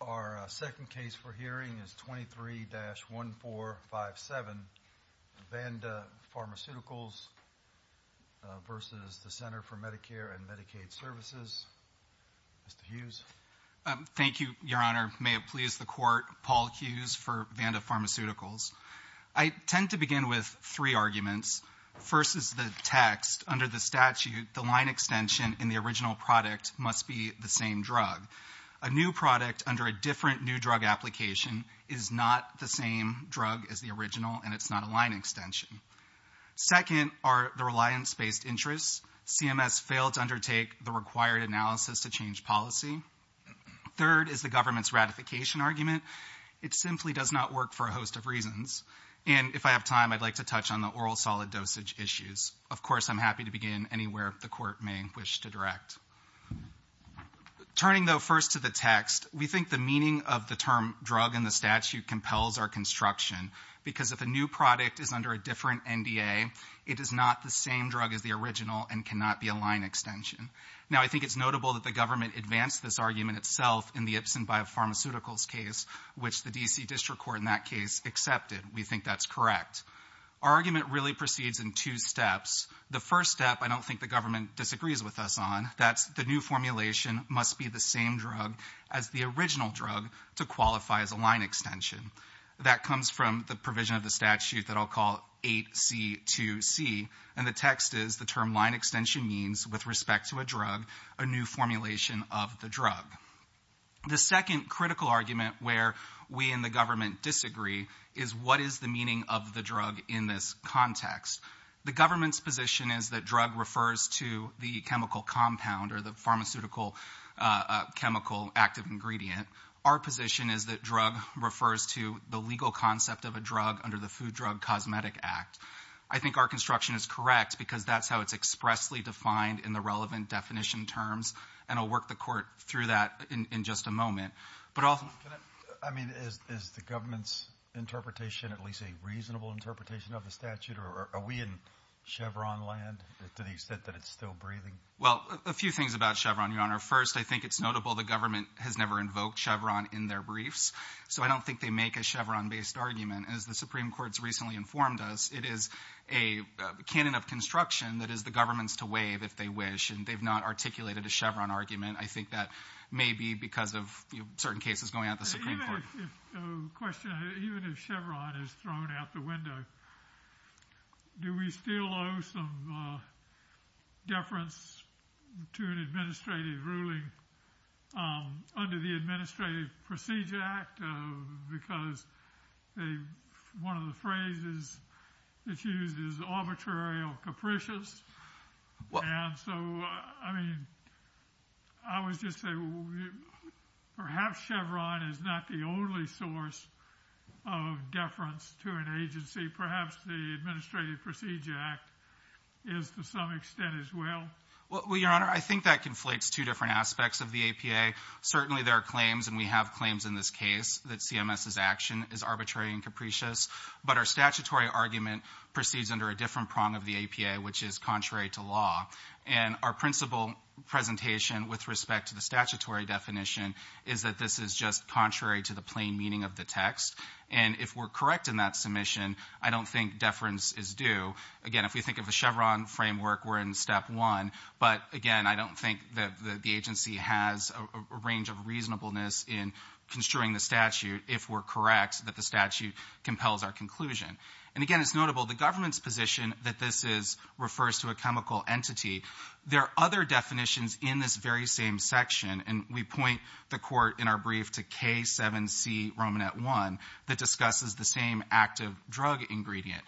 Our second case for hearing is 23-1457, Vanda Pharmaceuticals v. Centers for Medicare & Medicaid Services. Mr. Hughes. Thank you, Your Honor. May it please the Court, Paul Hughes for Vanda Pharmaceuticals. I tend to begin with three arguments. First is the text. Under the statute, the line extension in the original product must be the same drug. A new product under a different new drug application is not the same drug as the original, and it's not a line extension. Second are the reliance-based interests. CMS failed to undertake the required analysis to change policy. Third is the government's ratification argument. It simply does not work for a host of reasons. And if I have time, I'd like to touch on the oral solid dosage issues. Of course, I'm happy to begin anywhere the Court may wish to direct. Turning, though, first to the text, we think the meaning of the term drug in the statute compels our construction, because if a new product is under a different NDA, it is not the same drug as the original and cannot be a line extension. Now, I think it's notable that the government advanced this argument itself in the Ipsen Biopharmaceuticals case, which the D.C. District Court in that case accepted. We think that's correct. Our argument really proceeds in two steps. The first step, I don't think the government disagrees with us on. That's the new formulation must be the same drug as the original drug to qualify as a line extension. That comes from the provision of the statute that I'll call 8C2C. And the text is the term line extension means, with respect to a drug, a new formulation of the drug. The second critical argument where we in the government disagree is what is the meaning of the drug in this context? The government's position is that drug refers to the chemical compound or the pharmaceutical chemical active ingredient. Our position is that drug refers to the legal concept of a drug under the Food Drug Cosmetic Act. I think our construction is correct because that's how it's expressly defined in the relevant definition terms. And I'll work the court through that in just a moment. But I mean, is the government's interpretation at least a reasonable interpretation of the statute? Or are we in Chevron land to the extent that it's still breathing? Well, a few things about Chevron, Your Honor. First, I think it's notable the government has never invoked Chevron in their briefs. So I don't think they make a Chevron-based argument. As the Supreme Court's recently informed us, it is a canon of construction that is the government's to waive if they wish. And they've not articulated a Chevron argument. I think that may be because of certain cases going out the Supreme Court. I have a question. Even if Chevron is thrown out the window, do we still owe some deference to an administrative ruling under the Administrative Procedure Act? Because one of the phrases that's used is arbitrary or capricious. And so, I mean, I would just say perhaps Chevron is not the only source of deference to an agency. Perhaps the Administrative Procedure Act is to some extent as well. Well, Your Honor, I think that conflates two different aspects of the APA. Certainly there are claims, and we have claims in this case, that CMS's action is arbitrary and capricious. But our statutory argument proceeds under a different prong of the APA, which is contrary to law. And our principal presentation with respect to the statutory definition is that this is just contrary to the plain meaning of the text. And if we're correct in that submission, I don't think deference is due. Again, if we think of a Chevron framework, we're in step one. But, again, I don't think that the agency has a range of reasonableness in construing the statute if we're correct that the statute compels our conclusion. And, again, it's notable the government's position that this refers to a chemical entity. There are other definitions in this very same section, and we point the court in our brief to K7C Romanet 1 that discusses the same active drug ingredient.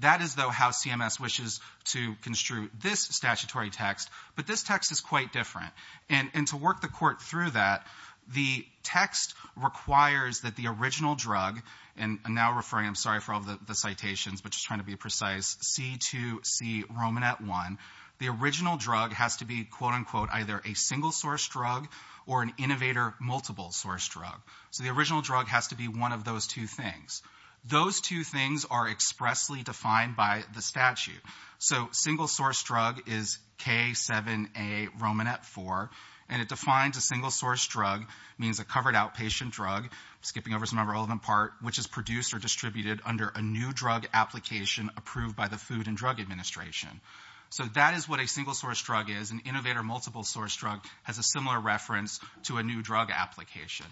That is, though, how CMS wishes to construe this statutory text, but this text is quite different. And to work the court through that, the text requires that the original drug, and I'm now referring, I'm sorry for all the citations, but just trying to be precise, C2C Romanet 1. The original drug has to be, quote, unquote, either a single source drug or an innovator multiple source drug. So the original drug has to be one of those two things. Those two things are expressly defined by the statute. So single source drug is K7A Romanet 4, and it defines a single source drug, means a covered outpatient drug, skipping over some of the relevant part, which is produced or distributed under a new drug application approved by the Food and Drug Administration. So that is what a single source drug is. An innovator multiple source drug has a similar reference to a new drug application.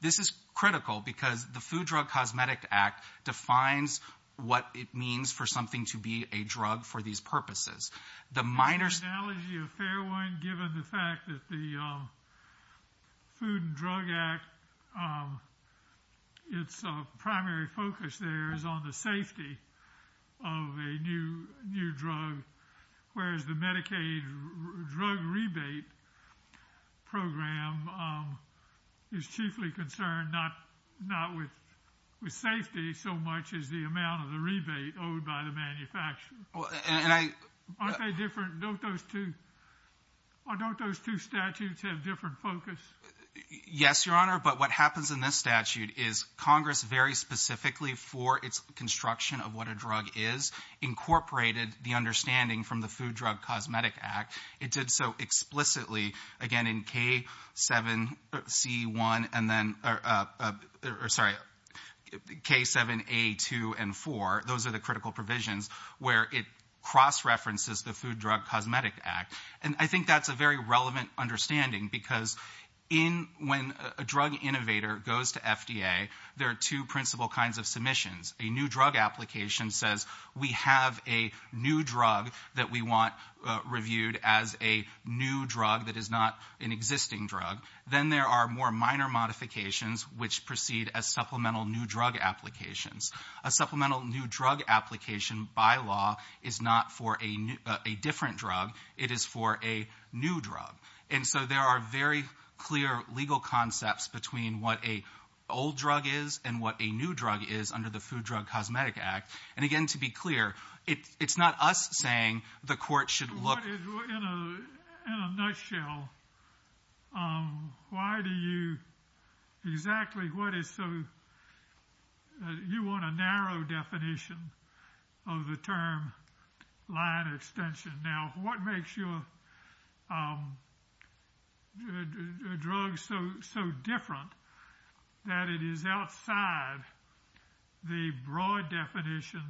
This is critical because the Food Drug Cosmetic Act defines what it means for something to be a drug for these purposes. The minor- not with safety so much as the amount of the rebate owed by the manufacturer. Aren't they different? Don't those two statutes have different focus? Yes, Your Honor, but what happens in this statute is Congress, very specifically for its construction of what a drug is, incorporated the understanding from the Food Drug Cosmetic Act. It did so explicitly, again, in K7C1 and then, or sorry, K7A2 and 4. Those are the critical provisions where it cross-references the Food Drug Cosmetic Act. And I think that's a very relevant understanding because when a drug innovator goes to FDA, there are two principal kinds of submissions. A new drug application says we have a new drug that we want reviewed as a new drug that is not an existing drug. Then there are more minor modifications which proceed as supplemental new drug applications. A supplemental new drug application, by law, is not for a different drug. It is for a new drug. And so there are very clear legal concepts between what a old drug is and what a new drug is under the Food Drug Cosmetic Act. And again, to be clear, it's not us saying the court should look— In a nutshell, why do you—exactly what is so— you want a narrow definition of the term line extension. Now, what makes your drug so different that it is outside the broad definition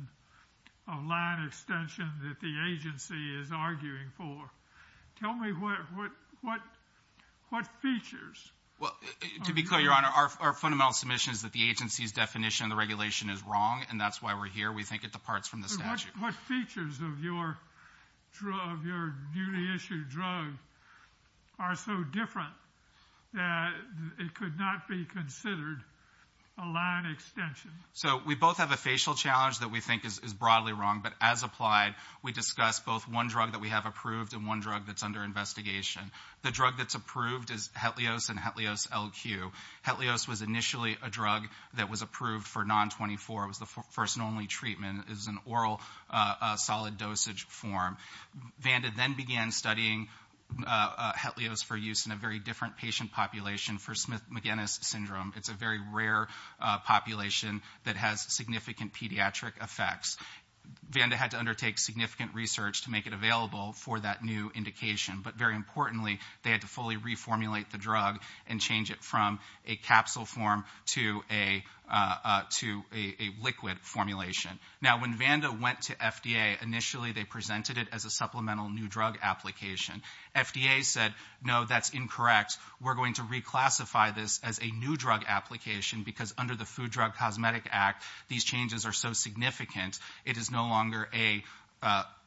of line extension that the agency is arguing for? Tell me what features. Well, to be clear, Your Honor, our fundamental submission is that the agency's definition of the regulation is wrong, and that's why we're here. We think it departs from the statute. What features of your newly issued drug are so different that it could not be considered a line extension? So we both have a facial challenge that we think is broadly wrong, but as applied, we discuss both one drug that we have approved and one drug that's under investigation. The drug that's approved is Hetlios and Hetlios LQ. Hetlios was initially a drug that was approved for non-24. It was the first and only treatment. It was an oral solid dosage form. Vanda then began studying Hetlios for use in a very different patient population for Smith-McGinnis syndrome. It's a very rare population that has significant pediatric effects. Vanda had to undertake significant research to make it available for that new indication, but very importantly, they had to fully reformulate the drug and change it from a capsule form to a liquid formulation. Now, when Vanda went to FDA, initially they presented it as a supplemental new drug application. FDA said, no, that's incorrect. We're going to reclassify this as a new drug application because under the Food Drug Cosmetic Act, these changes are so significant. It is no longer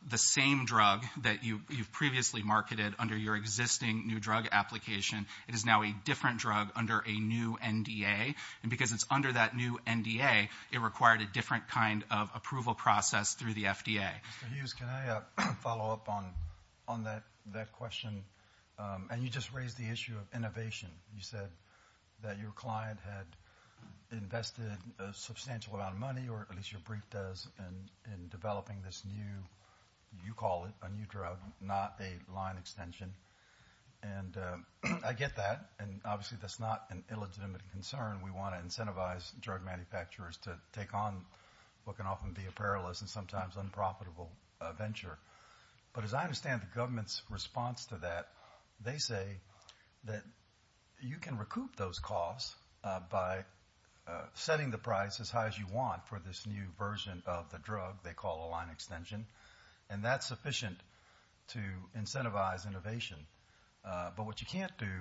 the same drug that you've previously marketed under your existing new drug application. It is now a different drug under a new NDA, and because it's under that new NDA, it required a different kind of approval process through the FDA. Mr. Hughes, can I follow up on that question? And you just raised the issue of innovation. You said that your client had invested a substantial amount of money, or at least your brief does, in developing this new, you call it, a new drug, not a line extension. And I get that, and obviously that's not an illegitimate concern. We want to incentivize drug manufacturers to take on what can often be a perilous and sometimes unprofitable venture. But as I understand the government's response to that, they say that you can recoup those costs by setting the price as high as you want for this new version of the drug they call a line extension, and that's sufficient to incentivize innovation. But what you can't do,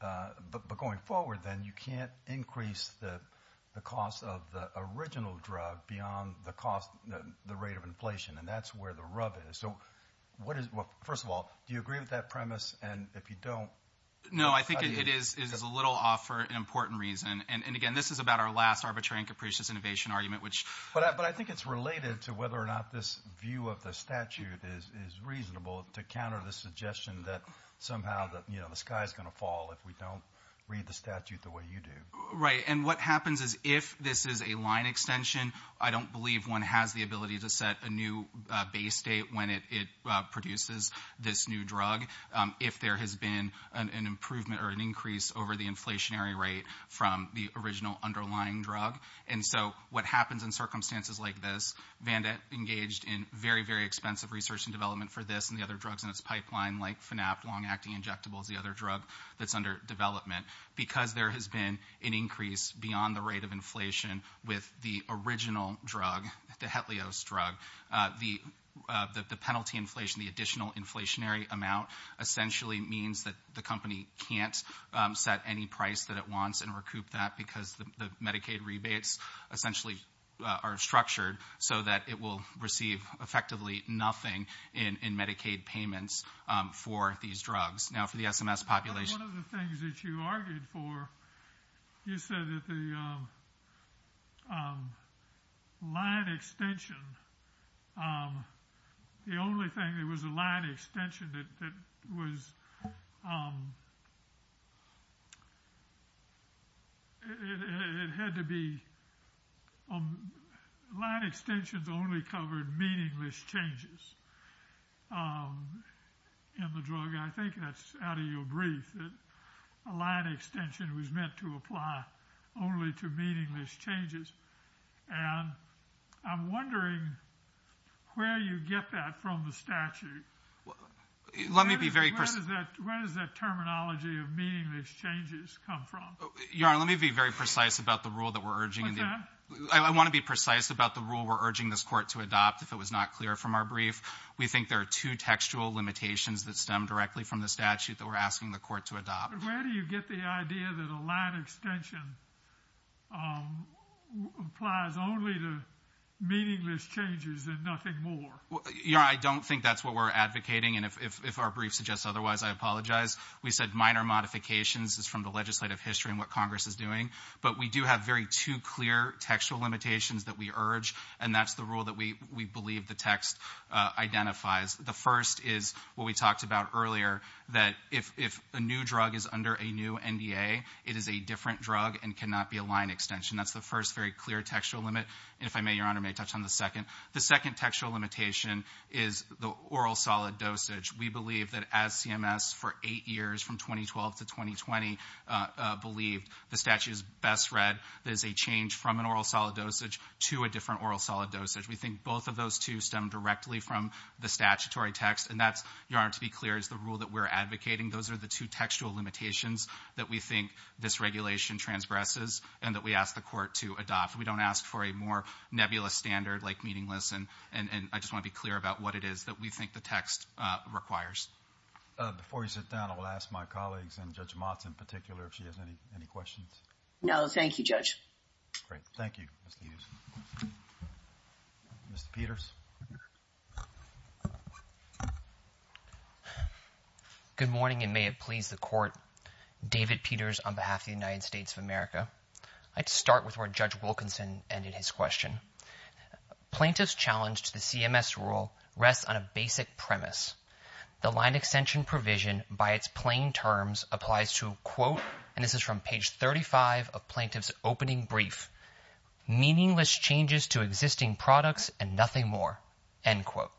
but going forward then, you can't increase the cost of the original drug beyond the rate of inflation, and that's where the rub is. First of all, do you agree with that premise? And if you don't... No, I think it is a little off for an important reason. And again, this is about our last arbitrary and capricious innovation argument, which... But I think it's related to whether or not this view of the statute is reasonable to counter the suggestion that somehow the sky is going to fall if we don't read the statute the way you do. Right, and what happens is if this is a line extension, I don't believe one has the ability to set a new base date when it produces this new drug if there has been an improvement or an increase over the inflationary rate from the original underlying drug. And so what happens in circumstances like this, Vandette engaged in very, very expensive research and development for this and the other drugs in its pipeline, like FNAP, long-acting injectables, the other drug that's under development, because there has been an increase beyond the rate of inflation with the original drug, the Hetlios drug. The penalty inflation, the additional inflationary amount, essentially means that the company can't set any price that it wants and recoup that because the Medicaid rebates essentially are structured so that it will receive effectively nothing in Medicaid payments for these drugs. Now, for the SMS population... You said that the line extension, the only thing that was a line extension that was... It had to be... Line extensions only covered meaningless changes in the drug. I think that's out of your brief, that a line extension was meant to apply only to meaningless changes. And I'm wondering where you get that from the statute. Let me be very precise. Where does that terminology of meaningless changes come from? Your Honor, let me be very precise about the rule that we're urging. What's that? I want to be precise about the rule we're urging this Court to adopt if it was not clear from our brief. We think there are two textual limitations that stem directly from the statute that we're asking the Court to adopt. Where do you get the idea that a line extension applies only to meaningless changes and nothing more? Your Honor, I don't think that's what we're advocating. And if our brief suggests otherwise, I apologize. We said minor modifications is from the legislative history and what Congress is doing. But we do have very two clear textual limitations that we urge, and that's the rule that we believe the text identifies. The first is what we talked about earlier, that if a new drug is under a new NDA, it is a different drug and cannot be a line extension. That's the first very clear textual limit. And if I may, Your Honor, may I touch on the second? The second textual limitation is the oral solid dosage. We believe that as CMS for eight years, from 2012 to 2020, believed the statute is best read that is a change from an oral solid dosage to a different oral solid dosage. We think both of those two stem directly from the statutory text. And that's, Your Honor, to be clear, is the rule that we're advocating. Those are the two textual limitations that we think this regulation transgresses and that we ask the Court to adopt. We don't ask for a more nebulous standard like meaningless. And I just want to be clear about what it is that we think the text requires. Before you sit down, I will ask my colleagues, and Judge Motz in particular, if she has any questions. No, thank you, Judge. Great. Thank you, Ms. Peters. Mr. Peters? Good morning, and may it please the Court. David Peters on behalf of the United States of America. I'd start with where Judge Wilkinson ended his question. Plaintiff's challenge to the CMS rule rests on a basic premise. The line extension provision by its plain terms applies to, quote, and this is from page 35 of Plaintiff's opening brief, meaningless changes to existing products and nothing more, end quote.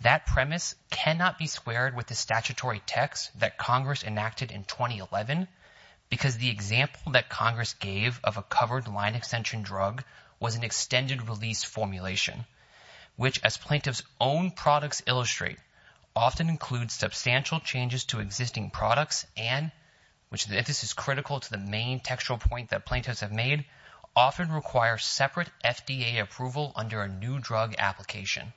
That premise cannot be squared with the statutory text that Congress enacted in 2011 because the example that Congress gave of a covered line extension drug was an extended release formulation, which, as Plaintiff's own products illustrate, often includes substantial changes to existing products and, if this is critical to the main textual point that plaintiffs have made, often require separate FDA approval under a new drug application.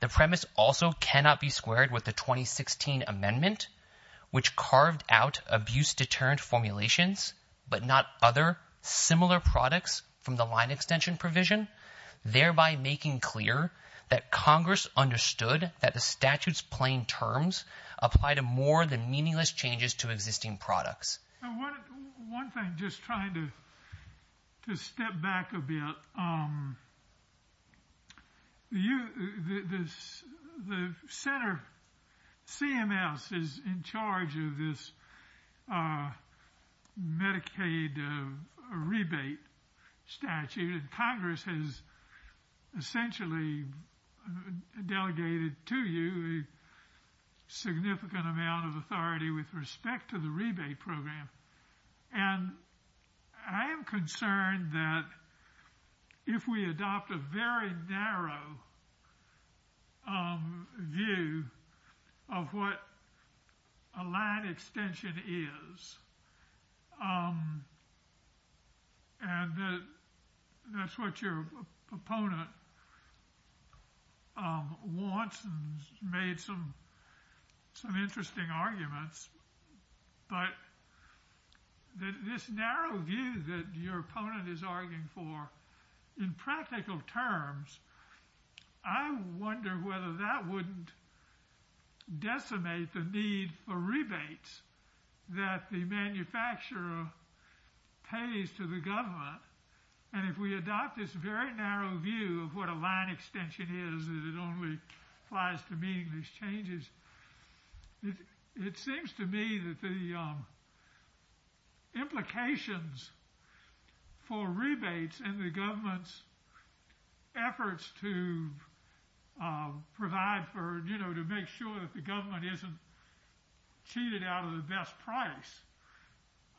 The premise also cannot be squared with the 2016 amendment, which carved out abuse deterrent formulations but not other similar products from the line extension provision, thereby making clear that Congress understood that the statute's plain terms apply to more than meaningless changes to existing products. One thing, just trying to step back a bit, the center CMS is in charge of this Medicaid rebate statute and Congress has essentially delegated to you a significant amount of authority with respect to the rebate program, and I am concerned that if we adopt a very narrow view of what a line extension is and that's what your opponent wants and has made some interesting arguments, but this narrow view that your opponent is arguing for in practical terms, I wonder whether that wouldn't decimate the need for rebates that the manufacturer pays to the government, and if we adopt this very narrow view of what a line extension is and it only applies to meaningless changes, it seems to me that the implications for rebates and the government's efforts to provide for, you know, to make sure that the government isn't cheated out of the best price,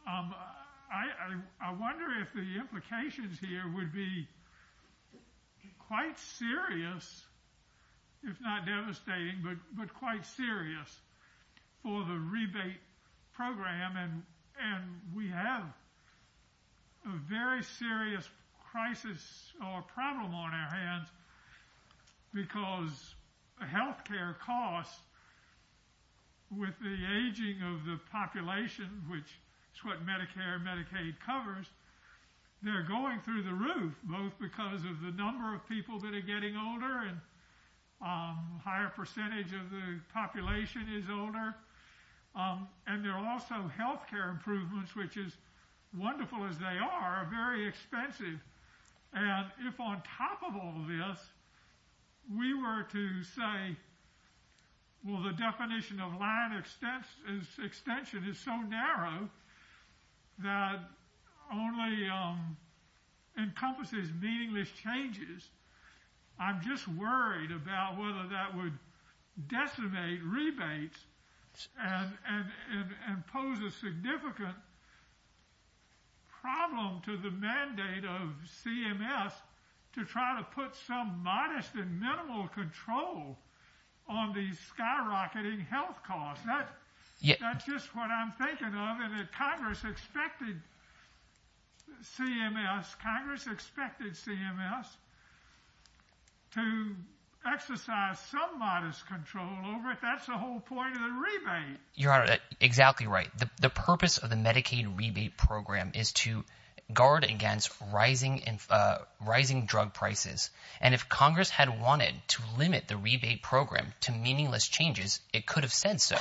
I wonder if the implications here would be quite serious, if not devastating, but quite serious for the rebate program and we have a very serious crisis or problem on our hands because health care costs with the aging of the population, which is what Medicare and Medicaid covers, they're going through the roof, both because of the number of people that are getting older and a higher percentage of the population is older, and there are also health care improvements, which as wonderful as they are, are very expensive, and if on top of all this we were to say, well, the definition of line extension is so narrow that only encompasses meaningless changes, I'm just worried about whether that would decimate rebates and pose a significant problem to the mandate of CMS to try to put some modest and minimal control on these skyrocketing health costs. That's just what I'm thinking of, and Congress expected CMS, Congress expected CMS to exercise some modest control over it. But that's the whole point of the rebate. Your Honor, exactly right. The purpose of the Medicaid rebate program is to guard against rising drug prices, and if Congress had wanted to limit the rebate program to meaningless changes, it could have said so,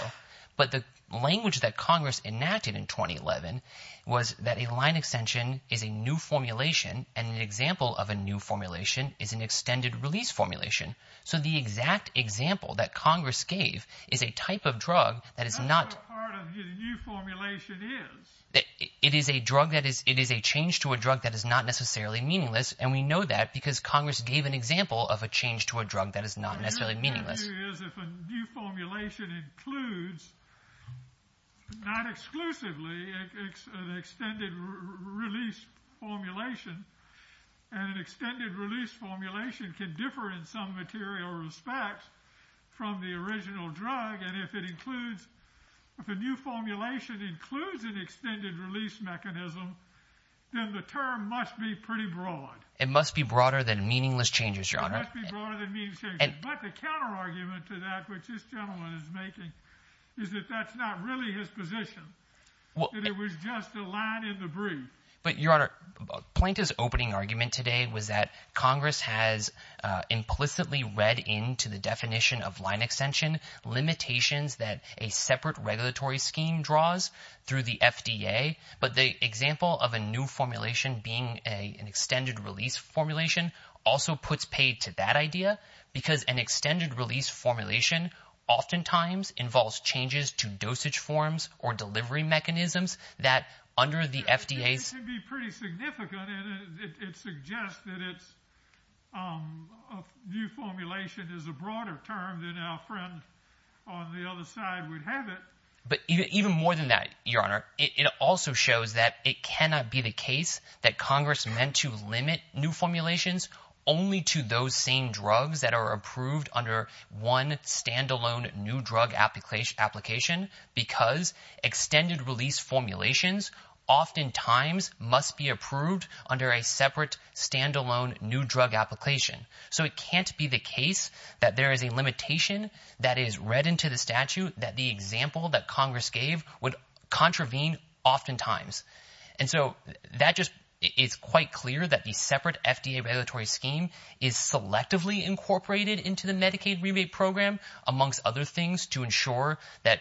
but the language that Congress enacted in 2011 was that a line extension is a new formulation and an example of a new formulation is an extended release formulation, so the exact example that Congress gave is a type of drug that is not... That's what part of the new formulation is. It is a drug that is, it is a change to a drug that is not necessarily meaningless, and we know that because Congress gave an example of a change to a drug that is not necessarily meaningless. The issue is if a new formulation includes, not exclusively, an extended release formulation, and an extended release formulation can differ in some material respects from the original drug, and if it includes, if a new formulation includes an extended release mechanism, then the term must be pretty broad. It must be broader than meaningless changes, Your Honor. It must be broader than meaningless changes. But the counterargument to that, which this gentleman is making, is that that's not really his position, that it was just a line in the brief. But, Your Honor, Plaintiff's opening argument today was that Congress has implicitly read into the definition of line extension limitations that a separate regulatory scheme draws through the FDA, but the example of a new formulation being an extended release formulation also puts paid to that idea, because an extended release formulation oftentimes involves changes to dosage forms or delivery mechanisms that, under the FDA's... It can be pretty significant, and it suggests that a new formulation is a broader term than our friend on the other side would have it. But even more than that, Your Honor, it also shows that it cannot be the case that Congress meant to limit new formulations only to those same drugs that are approved under one stand-alone new drug application, because extended release formulations oftentimes must be approved under a separate stand-alone new drug application. So it can't be the case that there is a limitation that is read into the statute that the example that Congress gave would contravene oftentimes. And so that just is quite clear that the separate FDA regulatory scheme is selectively incorporated into the Medicaid rebate program, amongst other things, to ensure that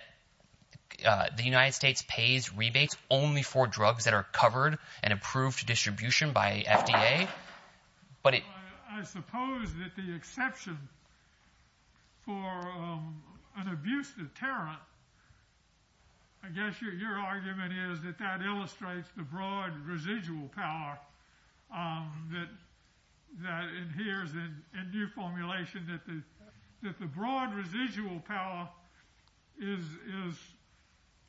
the United States pays rebates only for drugs that are covered and approved to distribution by FDA. But it... I suppose that the exception for an abuse deterrent, I guess your argument is that that illustrates the broad residual power that adheres in new formulation, that the broad residual power is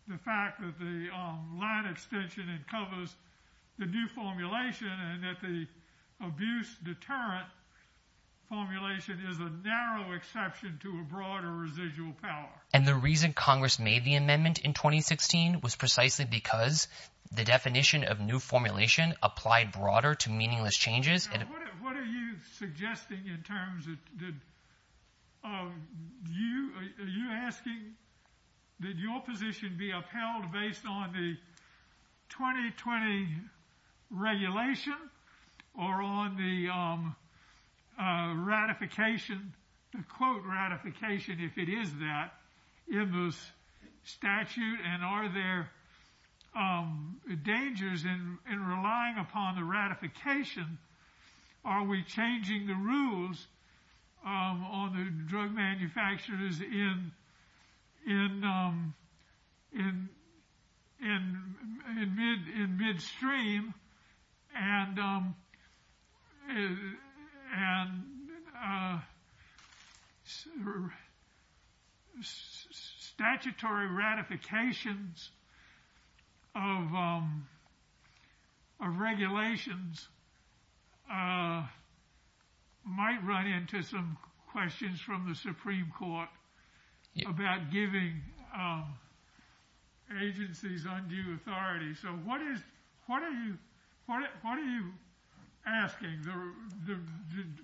the fact that the line extension covers the new formulation and that the abuse deterrent formulation is a narrow exception to a broader residual power. And the reason Congress made the amendment in 2016 was precisely because the definition of new formulation applied broader to meaningless changes. What are you suggesting in terms of... Are you asking that your position be upheld based on the 2020 regulation or on the ratification, the quote ratification, if it is that, in this statute? And are there dangers in relying upon the ratification? Are we changing the rules on the drug manufacturers in midstream and statutory ratifications of regulations might run into some questions from the Supreme Court about giving agencies undue authority? So what are you asking?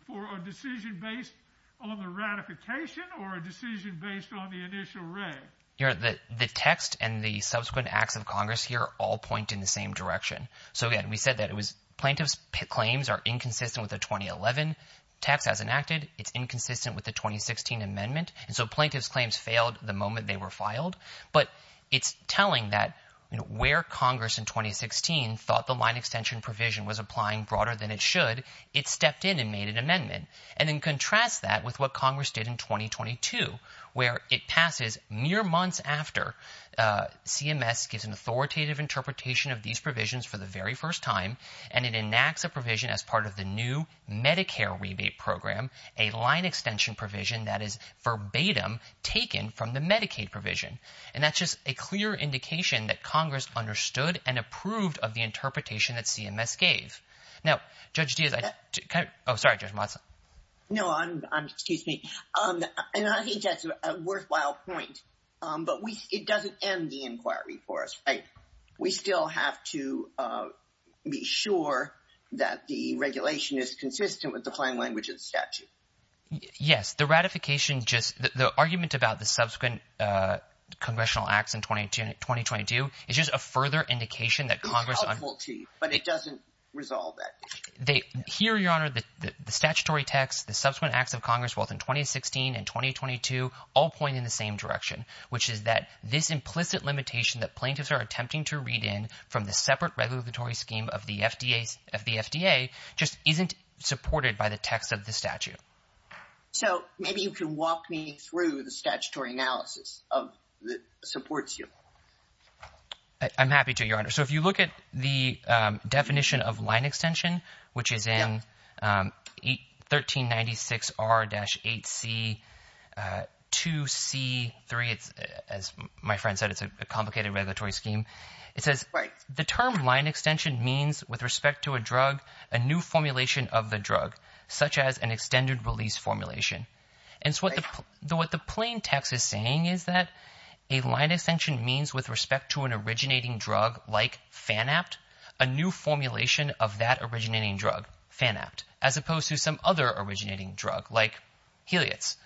For a decision based on the ratification or a decision based on the initial reg? The text and the subsequent acts of Congress here all point in the same direction. So again, we said that it was plaintiff's claims are inconsistent with the 2011 text as enacted. It's inconsistent with the 2016 amendment. And so plaintiff's claims failed the moment they were filed. But it's telling that where Congress in 2016 thought the line extension provision was applying broader than it should, it stepped in and made an amendment. And then contrast that with what Congress did in 2022 where it passes mere months after CMS gives an authoritative interpretation of these provisions for the very first time and it enacts a provision as part of the new Medicare rebate program, a line extension provision that is verbatim taken from the Medicaid provision. And that's just a clear indication that Congress understood and approved of the interpretation that CMS gave. Now, Judge Diaz, I... Oh, sorry, Judge Monson. No, excuse me. And I think that's a worthwhile point. But it doesn't end the inquiry for us, right? We still have to be sure that the regulation is consistent with the plain language of the statute. Yes, the ratification just... The argument about the subsequent congressional acts in 2022 is just a further indication that Congress... But it doesn't resolve that. Here, Your Honor, the statutory text, the subsequent acts of Congress both in 2016 and 2022 all point in the same direction, which is that this implicit limitation that plaintiffs are attempting to read in from the separate regulatory scheme of the FDA just isn't supported by the text of the statute. So maybe you can walk me through the statutory analysis that supports you. I'm happy to, Your Honor. So if you look at the definition of line extension, which is in 1396R-8C2C3. As my friend said, it's a complicated regulatory scheme. It says, the term line extension means with respect to a drug, a new formulation of the drug, such as an extended release formulation. And so what the plain text is saying is that a line extension means with respect to an originating drug like Phanapt, a new formulation of that originating drug, Phanapt, as opposed to some other originating drug like Heliots.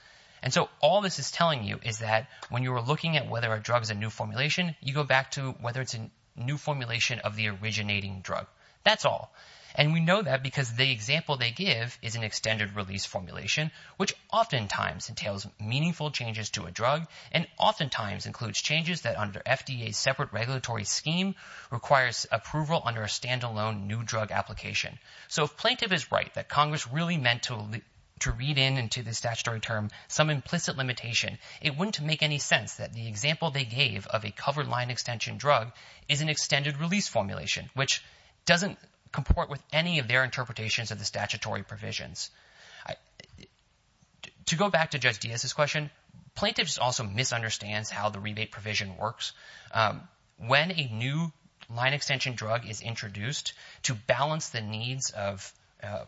And so all this is telling you is that when you were looking at whether a drug is a new formulation, you go back to whether it's a new formulation of the originating drug. That's all. And we know that because the example they give is an extended release formulation, which oftentimes entails meaningful changes to a drug and oftentimes includes changes that under FDA's separate regulatory scheme requires approval under a stand-alone new drug application. So if plaintiff is right that Congress really meant to read into the statutory term some implicit limitation, it wouldn't make any sense that the example they gave of a covered line extension drug is an extended release formulation, which doesn't comport with any of their interpretations of the statutory provisions. To go back to Judge Diaz's question, plaintiffs also misunderstand how the rebate provision works. When a new line extension drug is introduced to balance the needs of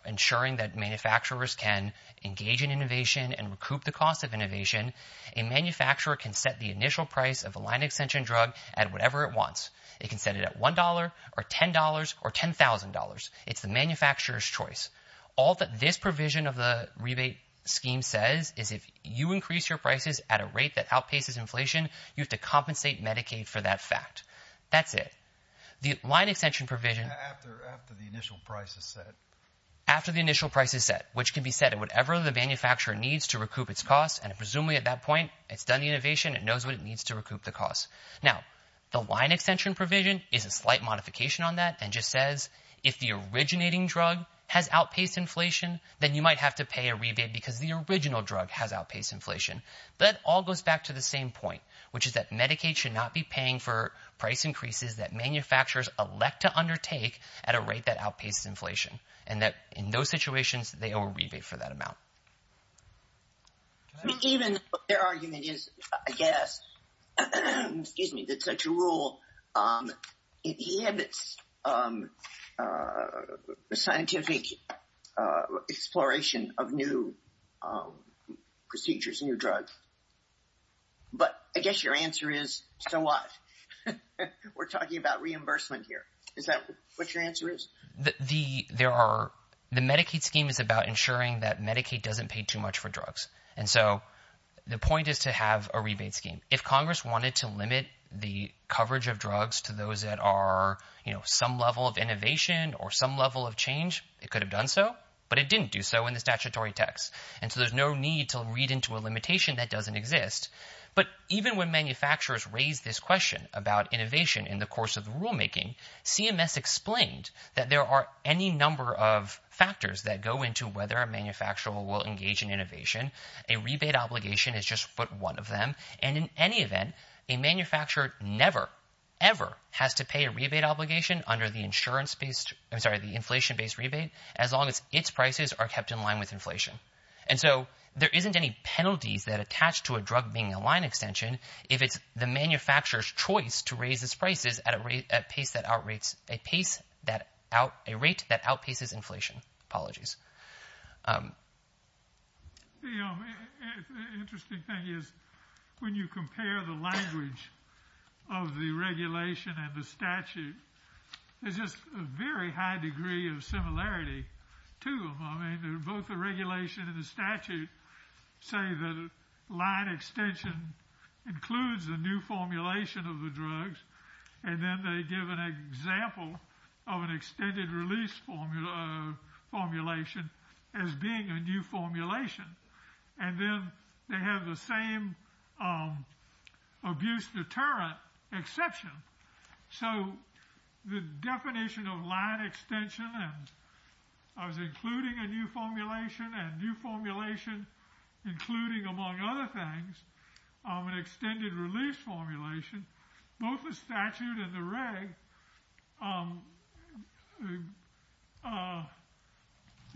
ensuring that manufacturers can engage in innovation and recoup the cost of innovation, a manufacturer can set the initial price of a line extension drug at whatever it wants. It can set it at $1 or $10 or $10,000. It's the manufacturer's choice. All that this provision of the rebate scheme says is if you increase your prices at a rate that outpaces inflation, you have to compensate Medicaid for that fact. That's it. The line extension provision... After the initial price is set. After the initial price is set, which can be set at whatever the manufacturer needs to recoup its cost, and presumably at that point, it's done the innovation, it knows what it needs to recoup the cost. Now, the line extension provision is a slight modification on that and just says, if the originating drug has outpaced inflation, then you might have to pay a rebate because the original drug has outpaced inflation. But it all goes back to the same point, which is that Medicaid should not be paying for price increases that manufacturers elect to undertake at a rate that outpaces inflation and that in those situations, they owe a rebate for that amount. Even their argument is, I guess, that such a rule inhibits scientific exploration of new procedures in your drug. But I guess your answer is, so what? We're talking about reimbursement here. Is that what your answer is? The Medicaid scheme is about ensuring that Medicaid doesn't pay too much for drugs. And so the point is to have a rebate scheme. If Congress wanted to limit the coverage of drugs to those that are, you know, some level of innovation or some level of change, it could have done so, but it didn't do so in the statutory text. And so there's no need to read into a limitation that doesn't exist. But even when manufacturers raise this question about innovation in the course of the rulemaking, CMS explained that there are any number of factors that go into whether a manufacturer will engage in innovation. A rebate obligation is just but one of them. And in any event, a manufacturer never, ever has to pay a rebate obligation under the inflation-based rebate as long as its prices are kept in line with inflation. And so there isn't any penalties that attach to a drug being a line extension if it's the manufacturer's choice to raise its prices at a rate that outpaces inflation. Apologies. The interesting thing is when you compare the language of the regulation and the statute, there's just a very high degree of similarity to them. I mean, both the regulation and the statute say that line extension includes a new formulation of the drugs, and then they give an example of an extended release formulation as being a new formulation. And then they have the same abuse deterrent exception. So the definition of line extension, and I was including a new formulation, and new formulation including, among other things, an extended release formulation, both the statute and the reg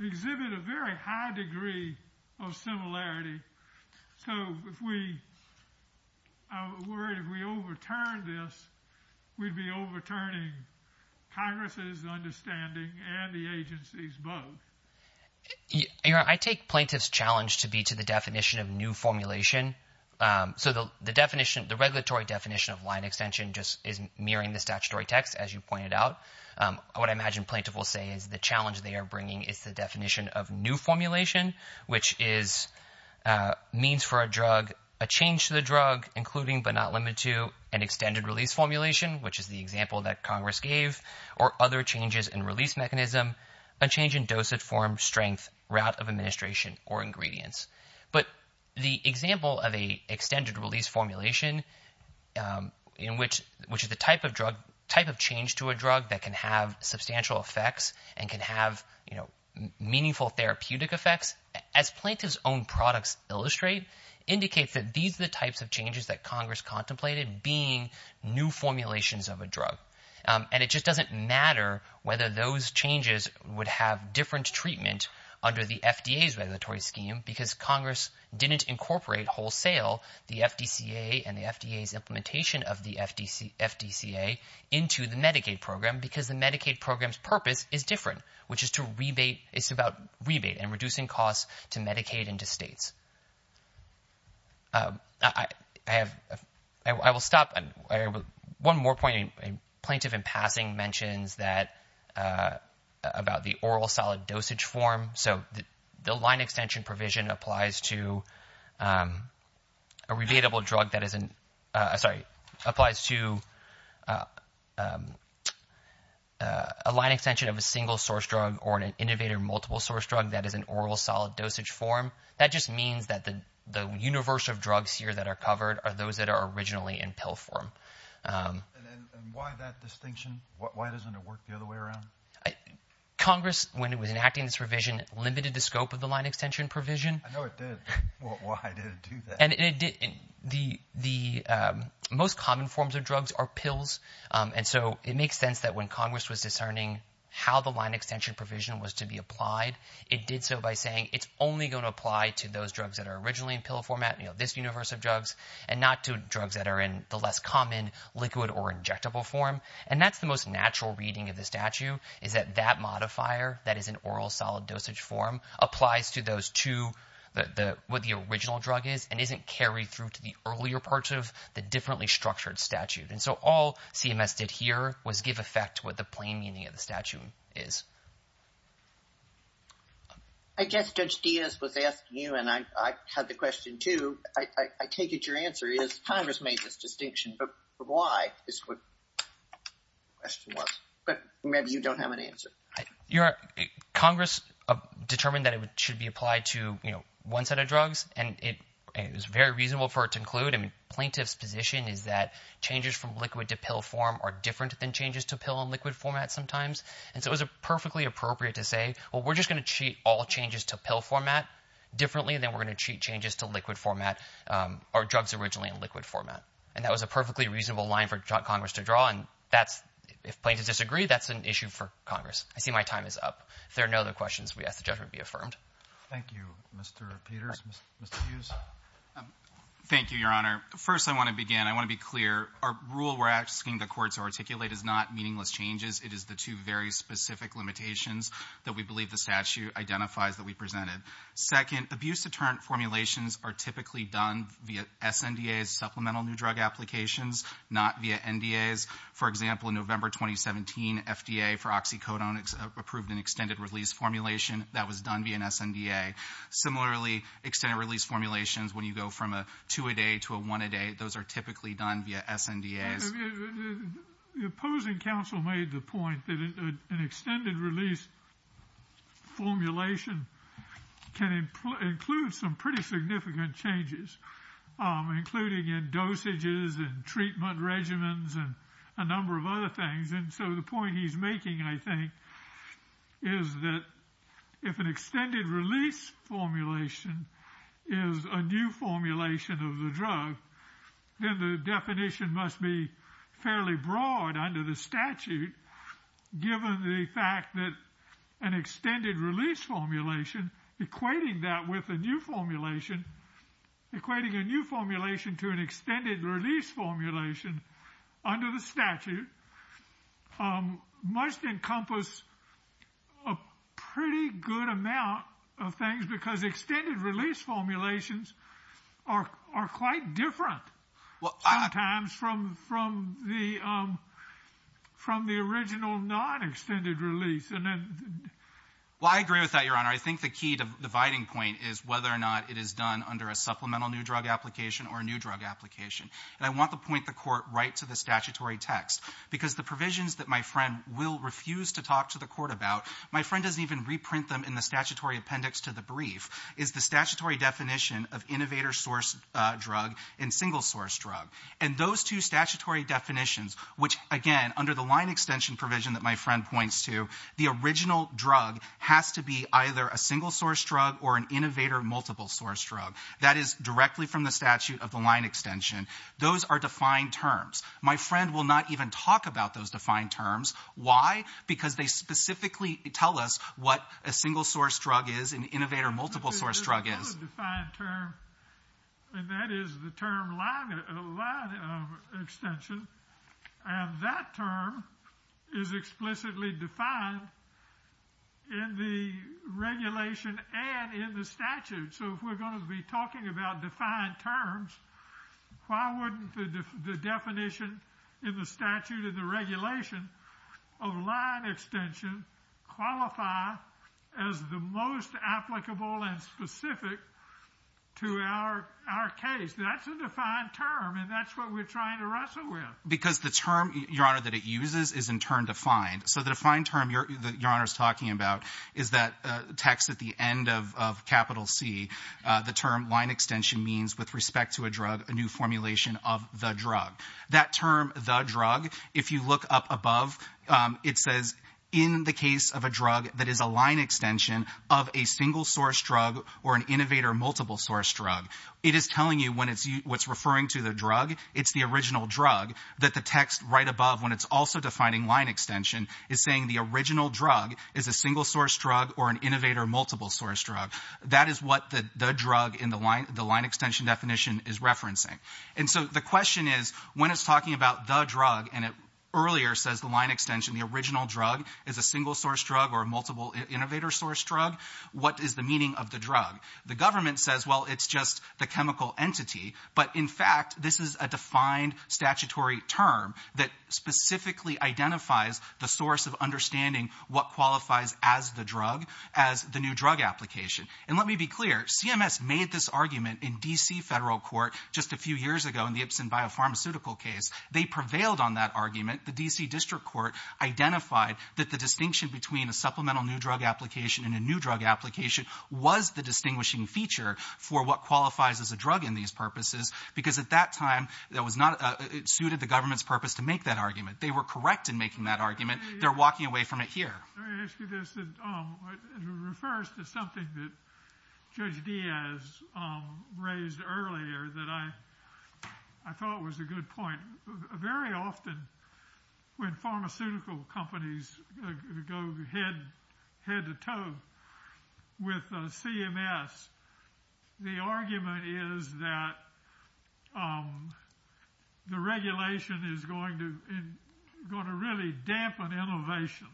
exhibit a very high degree of similarity. So if we... I'm worried if we overturn this, we'd be overturning Congress's understanding and the agency's both. Your Honor, I take plaintiff's challenge to be to the definition of new formulation. So the definition, the regulatory definition of line extension just isn't mirroring the statutory text, as you pointed out. What I imagine plaintiff will say is the challenge they are bringing is the definition of new formulation, which is means for a drug, a change to the drug, including but not limited to an extended release formulation, which is the example that Congress gave, or other changes in release mechanism, a change in dosage, form, strength, route of administration, or ingredients. But the example of an extended release formulation, which is the type of change to a drug that can have substantial effects and can have meaningful therapeutic effects, as plaintiff's own products illustrate, indicates that these are the types of changes that Congress contemplated being new formulations of a drug. And it just doesn't matter whether those changes would have different treatment under the FDA's regulatory scheme, because Congress didn't incorporate wholesale the FDCA and the FDA's implementation of the FDCA into the Medicaid program, because the Medicaid program's purpose is different, which is to rebate, it's about rebate and reducing costs to Medicaid and to states. I will stop. One more point. Plaintiff in passing mentions about the oral solid dosage form. So the line extension provision applies to a rebatable drug that applies to a line extension of a single source drug or an innovator multiple source drug that is an oral solid dosage form. That just means that the universe of drugs here that are covered are those that are originally in pill form. And why that distinction? Why doesn't it work the other way around? Congress, when it was enacting this provision, limited the scope of the line extension provision. I know it did. Why did it do that? And it did. The most common forms of drugs are pills, and so it makes sense that when Congress was discerning how the line extension provision was to be applied, it did so by saying it's only going to apply to those drugs that are originally in pill format, this universe of drugs, and not to drugs that are in the less common liquid or injectable form. And that's the most natural reading of the statute is that that modifier that is an oral solid dosage form applies to those two, what the original drug is, and isn't carried through to the earlier parts of the differently structured statute. And so all CMS did here was give effect to what the plain meaning of the statute is. I guess Judge Diaz was asking you, and I had the question too. I take it your answer is Congress made this distinction, but why is what the question was. But maybe you don't have an answer. Congress determined that it should be applied to one set of drugs, and it was very reasonable for it to include. I mean, plaintiff's position is that changes from liquid to pill form are different than changes to pill and liquid format sometimes, and so it was a perfect appropriate to say, well, we're just going to cheat all changes to pill format differently than we're going to cheat changes to liquid format or drugs originally in liquid format, and that was a perfectly reasonable line for Congress to draw, and if plaintiffs disagree, that's an issue for Congress. I see my time is up. If there are no other questions, we ask the judgment be affirmed. Thank you, Mr. Peters. Mr. Hughes? Thank you, Your Honor. First, I want to begin. I want to be clear. Our rule we're asking the court to articulate is not meaningless changes. It is the two very specific limitations that we believe the statute identifies that we presented. Second, abuse deterrent formulations are typically done via SNDA's supplemental new drug applications, not via NDA's. For example, in November 2017, FDA for oxycodone approved an extended release formulation. That was done via an SNDA. Similarly, extended release formulations, when you go from a two-a-day to a one-a-day, those are typically done via SNDA's. The opposing counsel made the point that an extended release formulation can include some pretty significant changes, including in dosages and treatment regimens and a number of other things. So the point he's making, I think, is that if an extended release formulation is a new formulation of the drug, then the definition must be fairly broad under the statute given the fact that an extended release formulation equating that with a new formulation, equating a new formulation to an extended release formulation under the statute must encompass a pretty good amount of things because extended release formulations are quite different sometimes from the original non-extended release. Well, I agree with that, Your Honor. I think the key dividing point is whether or not it is done under a supplemental new drug application or a new drug application. And I want to point the Court right to the statutory text because the provisions that my friend will refuse to talk to the Court about, my friend doesn't even reprint them in the statutory appendix to the brief, is the statutory definition of innovator-sourced drug and single-sourced drug. And those two statutory definitions, which, again, under the line extension provision that my friend points to, the original drug has to be either a single-sourced drug or an innovator-multiple-sourced drug. That is directly from the statute of the line extension. Those are defined terms. My friend will not even talk about those defined terms. Why? Because they specifically tell us what a single-sourced drug is, an innovator-multiple-sourced drug is. That is a defined term. And that is the term line extension. And that term is explicitly defined in the regulation and in the statute. So if we're going to be talking about defined terms, why wouldn't the definition in the statute and the regulation of line extension qualify as the most applicable and specific to our case? That's a defined term, and that's what we're trying to wrestle with. Because the term, Your Honor, that it uses is in turn defined. So the defined term that Your Honor's talking about is that text at the end of capital C. The term line extension means with respect to a drug a new formulation of the drug. That term, the drug, if you look up above, it says, in the case of a drug that is a line extension of a single-source drug or an innovator-multiple-source drug. It is telling you when it's referring to the drug, it's the original drug, that the text right above, when it's also defining line extension, is saying the original drug is a single-source drug or an innovator-multiple-source drug. That is what the drug in the line extension definition is referencing. And so the question is, when it's talking about the drug, and it earlier says the line extension, the original drug is a single-source drug or a multiple-innovator-source drug, what is the meaning of the drug? The government says, well, it's just the chemical entity, but in fact, this is a defined statutory term that specifically identifies the source of understanding what qualifies as the drug as the new drug application. And let me be clear, CMS made this argument in D.C. federal court just a few years ago in the Ipsen biopharmaceutical case. They prevailed on that argument. The D.C. district court identified that the distinction between a supplemental new drug application and a new drug application was the distinguishing feature for what qualifies as a drug in these purposes because at that time, it suited the government's purpose to make that argument. They were correct in making that argument. They're walking away from it here. Let me ask you this. It refers to something that Judge Diaz raised earlier that I thought was a good point. Very often, when pharmaceutical companies go head-to-toe with CMS, the argument is that the regulation is going to really dampen innovation.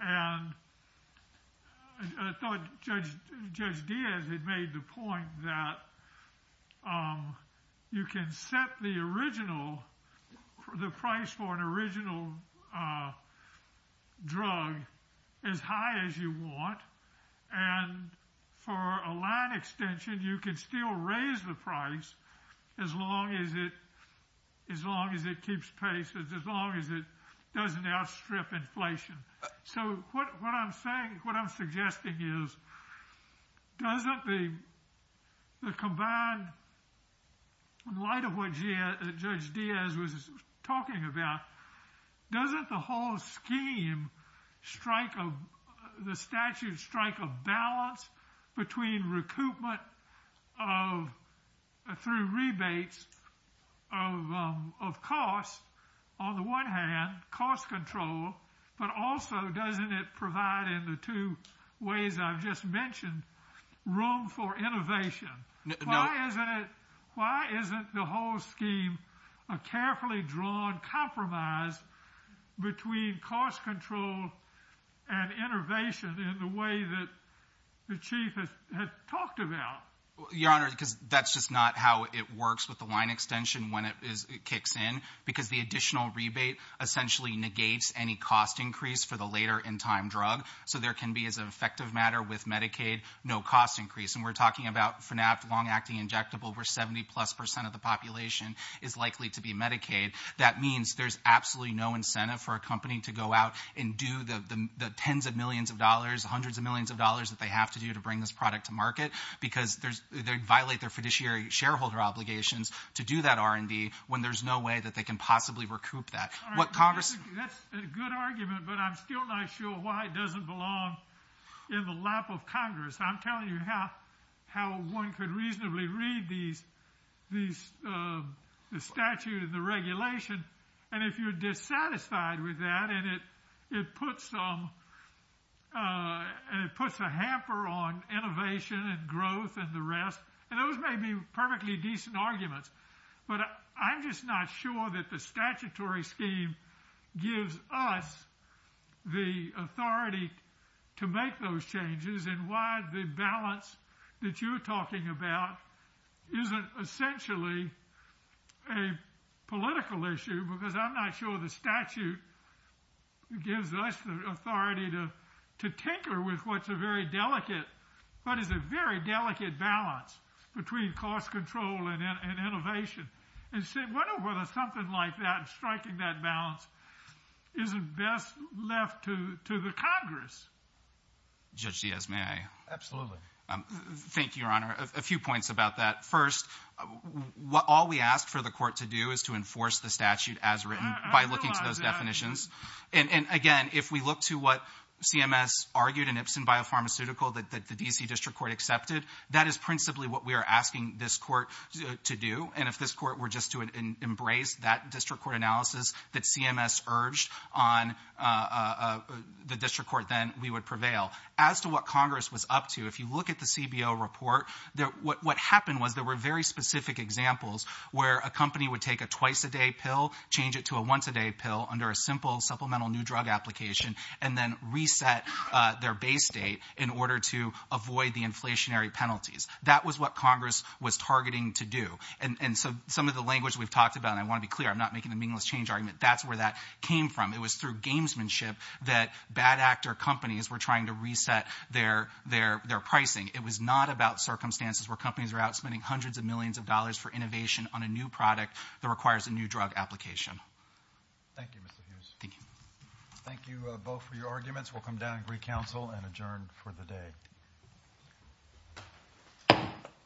And I thought Judge Diaz had made the point that you can set the original, the price for an original drug as high as you want, and for a line extension, you can still raise the price as long as it keeps pace as long as it doesn't outstrip inflation. So what I'm saying, what I'm suggesting is doesn't the combined, in light of what Judge Diaz was talking about, doesn't the whole scheme strike a, the statute strike a balance between recoupment of, through rebates of costs, on the one hand, cost control, but also doesn't it provide, in the two ways I've just mentioned, room for innovation? Why isn't it, why isn't the whole scheme a carefully drawn compromise between cost control and innovation in the way that the Chief had talked about? Your Honor, because that's just not how it works with the line extension when it kicks in, because the additional rebate essentially negates any cost increase for the later in time drug, so there can be, as an effective matter with Medicaid, no cost increase. And we're talking about, for now, long acting injectable where 70 plus percent of the population is likely to be Medicaid. That means there's absolutely no incentive for a company to go out and do the tens of millions of dollars, hundreds of millions of dollars that they have to do to bring this product to market because they violate their fiduciary shareholder obligations to do that R&D when there's no way that they can possibly recoup that. What Congress, That's a good argument, but I'm still not sure why it doesn't belong in the lap of Congress. I'm telling you how one could reasonably read the statute and the regulation, and if you're dissatisfied with that and it puts a hamper on innovation and growth and the rest, and those may be perfectly decent arguments, but I'm just not sure that the statutory scheme gives us the authority to make those changes and why the balance that you're talking about isn't essentially a political issue because I'm not sure the statute gives us the authority to tinker with what's a very delicate, what is a very delicate balance between cost control and innovation. I wonder whether something like that and striking that balance isn't best left to the Congress. Judge Diaz, may I? Absolutely. Thank you, Your Honor. A few points about that. First, all we ask for the court to do is to enforce the statute as written by looking to those definitions, and again, if we look to what CMS argued in Ipsen Biopharmaceutical that the D.C. District Court accepted, that is principally what we are asking this court to do, and if this court were just to embrace that district court analysis that CMS urged on the district court then we would prevail. As to what Congress was up to, if you look at the CBO report, what happened was there were very specific examples where a company would take a twice-a-day pill, change it to a once-a-day pill under a simple supplemental new drug application, and then reset their base date in order to avoid the inflationary penalties. That was what Congress was targeting to do, and some of the language we've talked about, and I want to be clear, I'm not making a meaningless change argument, that's where that came from. It was through gamesmanship that bad actor companies were trying to reset their pricing. It was not about circumstances where companies are out spending hundreds of millions of dollars for innovation on a new product that requires a new drug application. Thank you, Mr. Hughes. Thank you. Thank you both for your arguments. We'll come down and recouncil and adjourn for the day.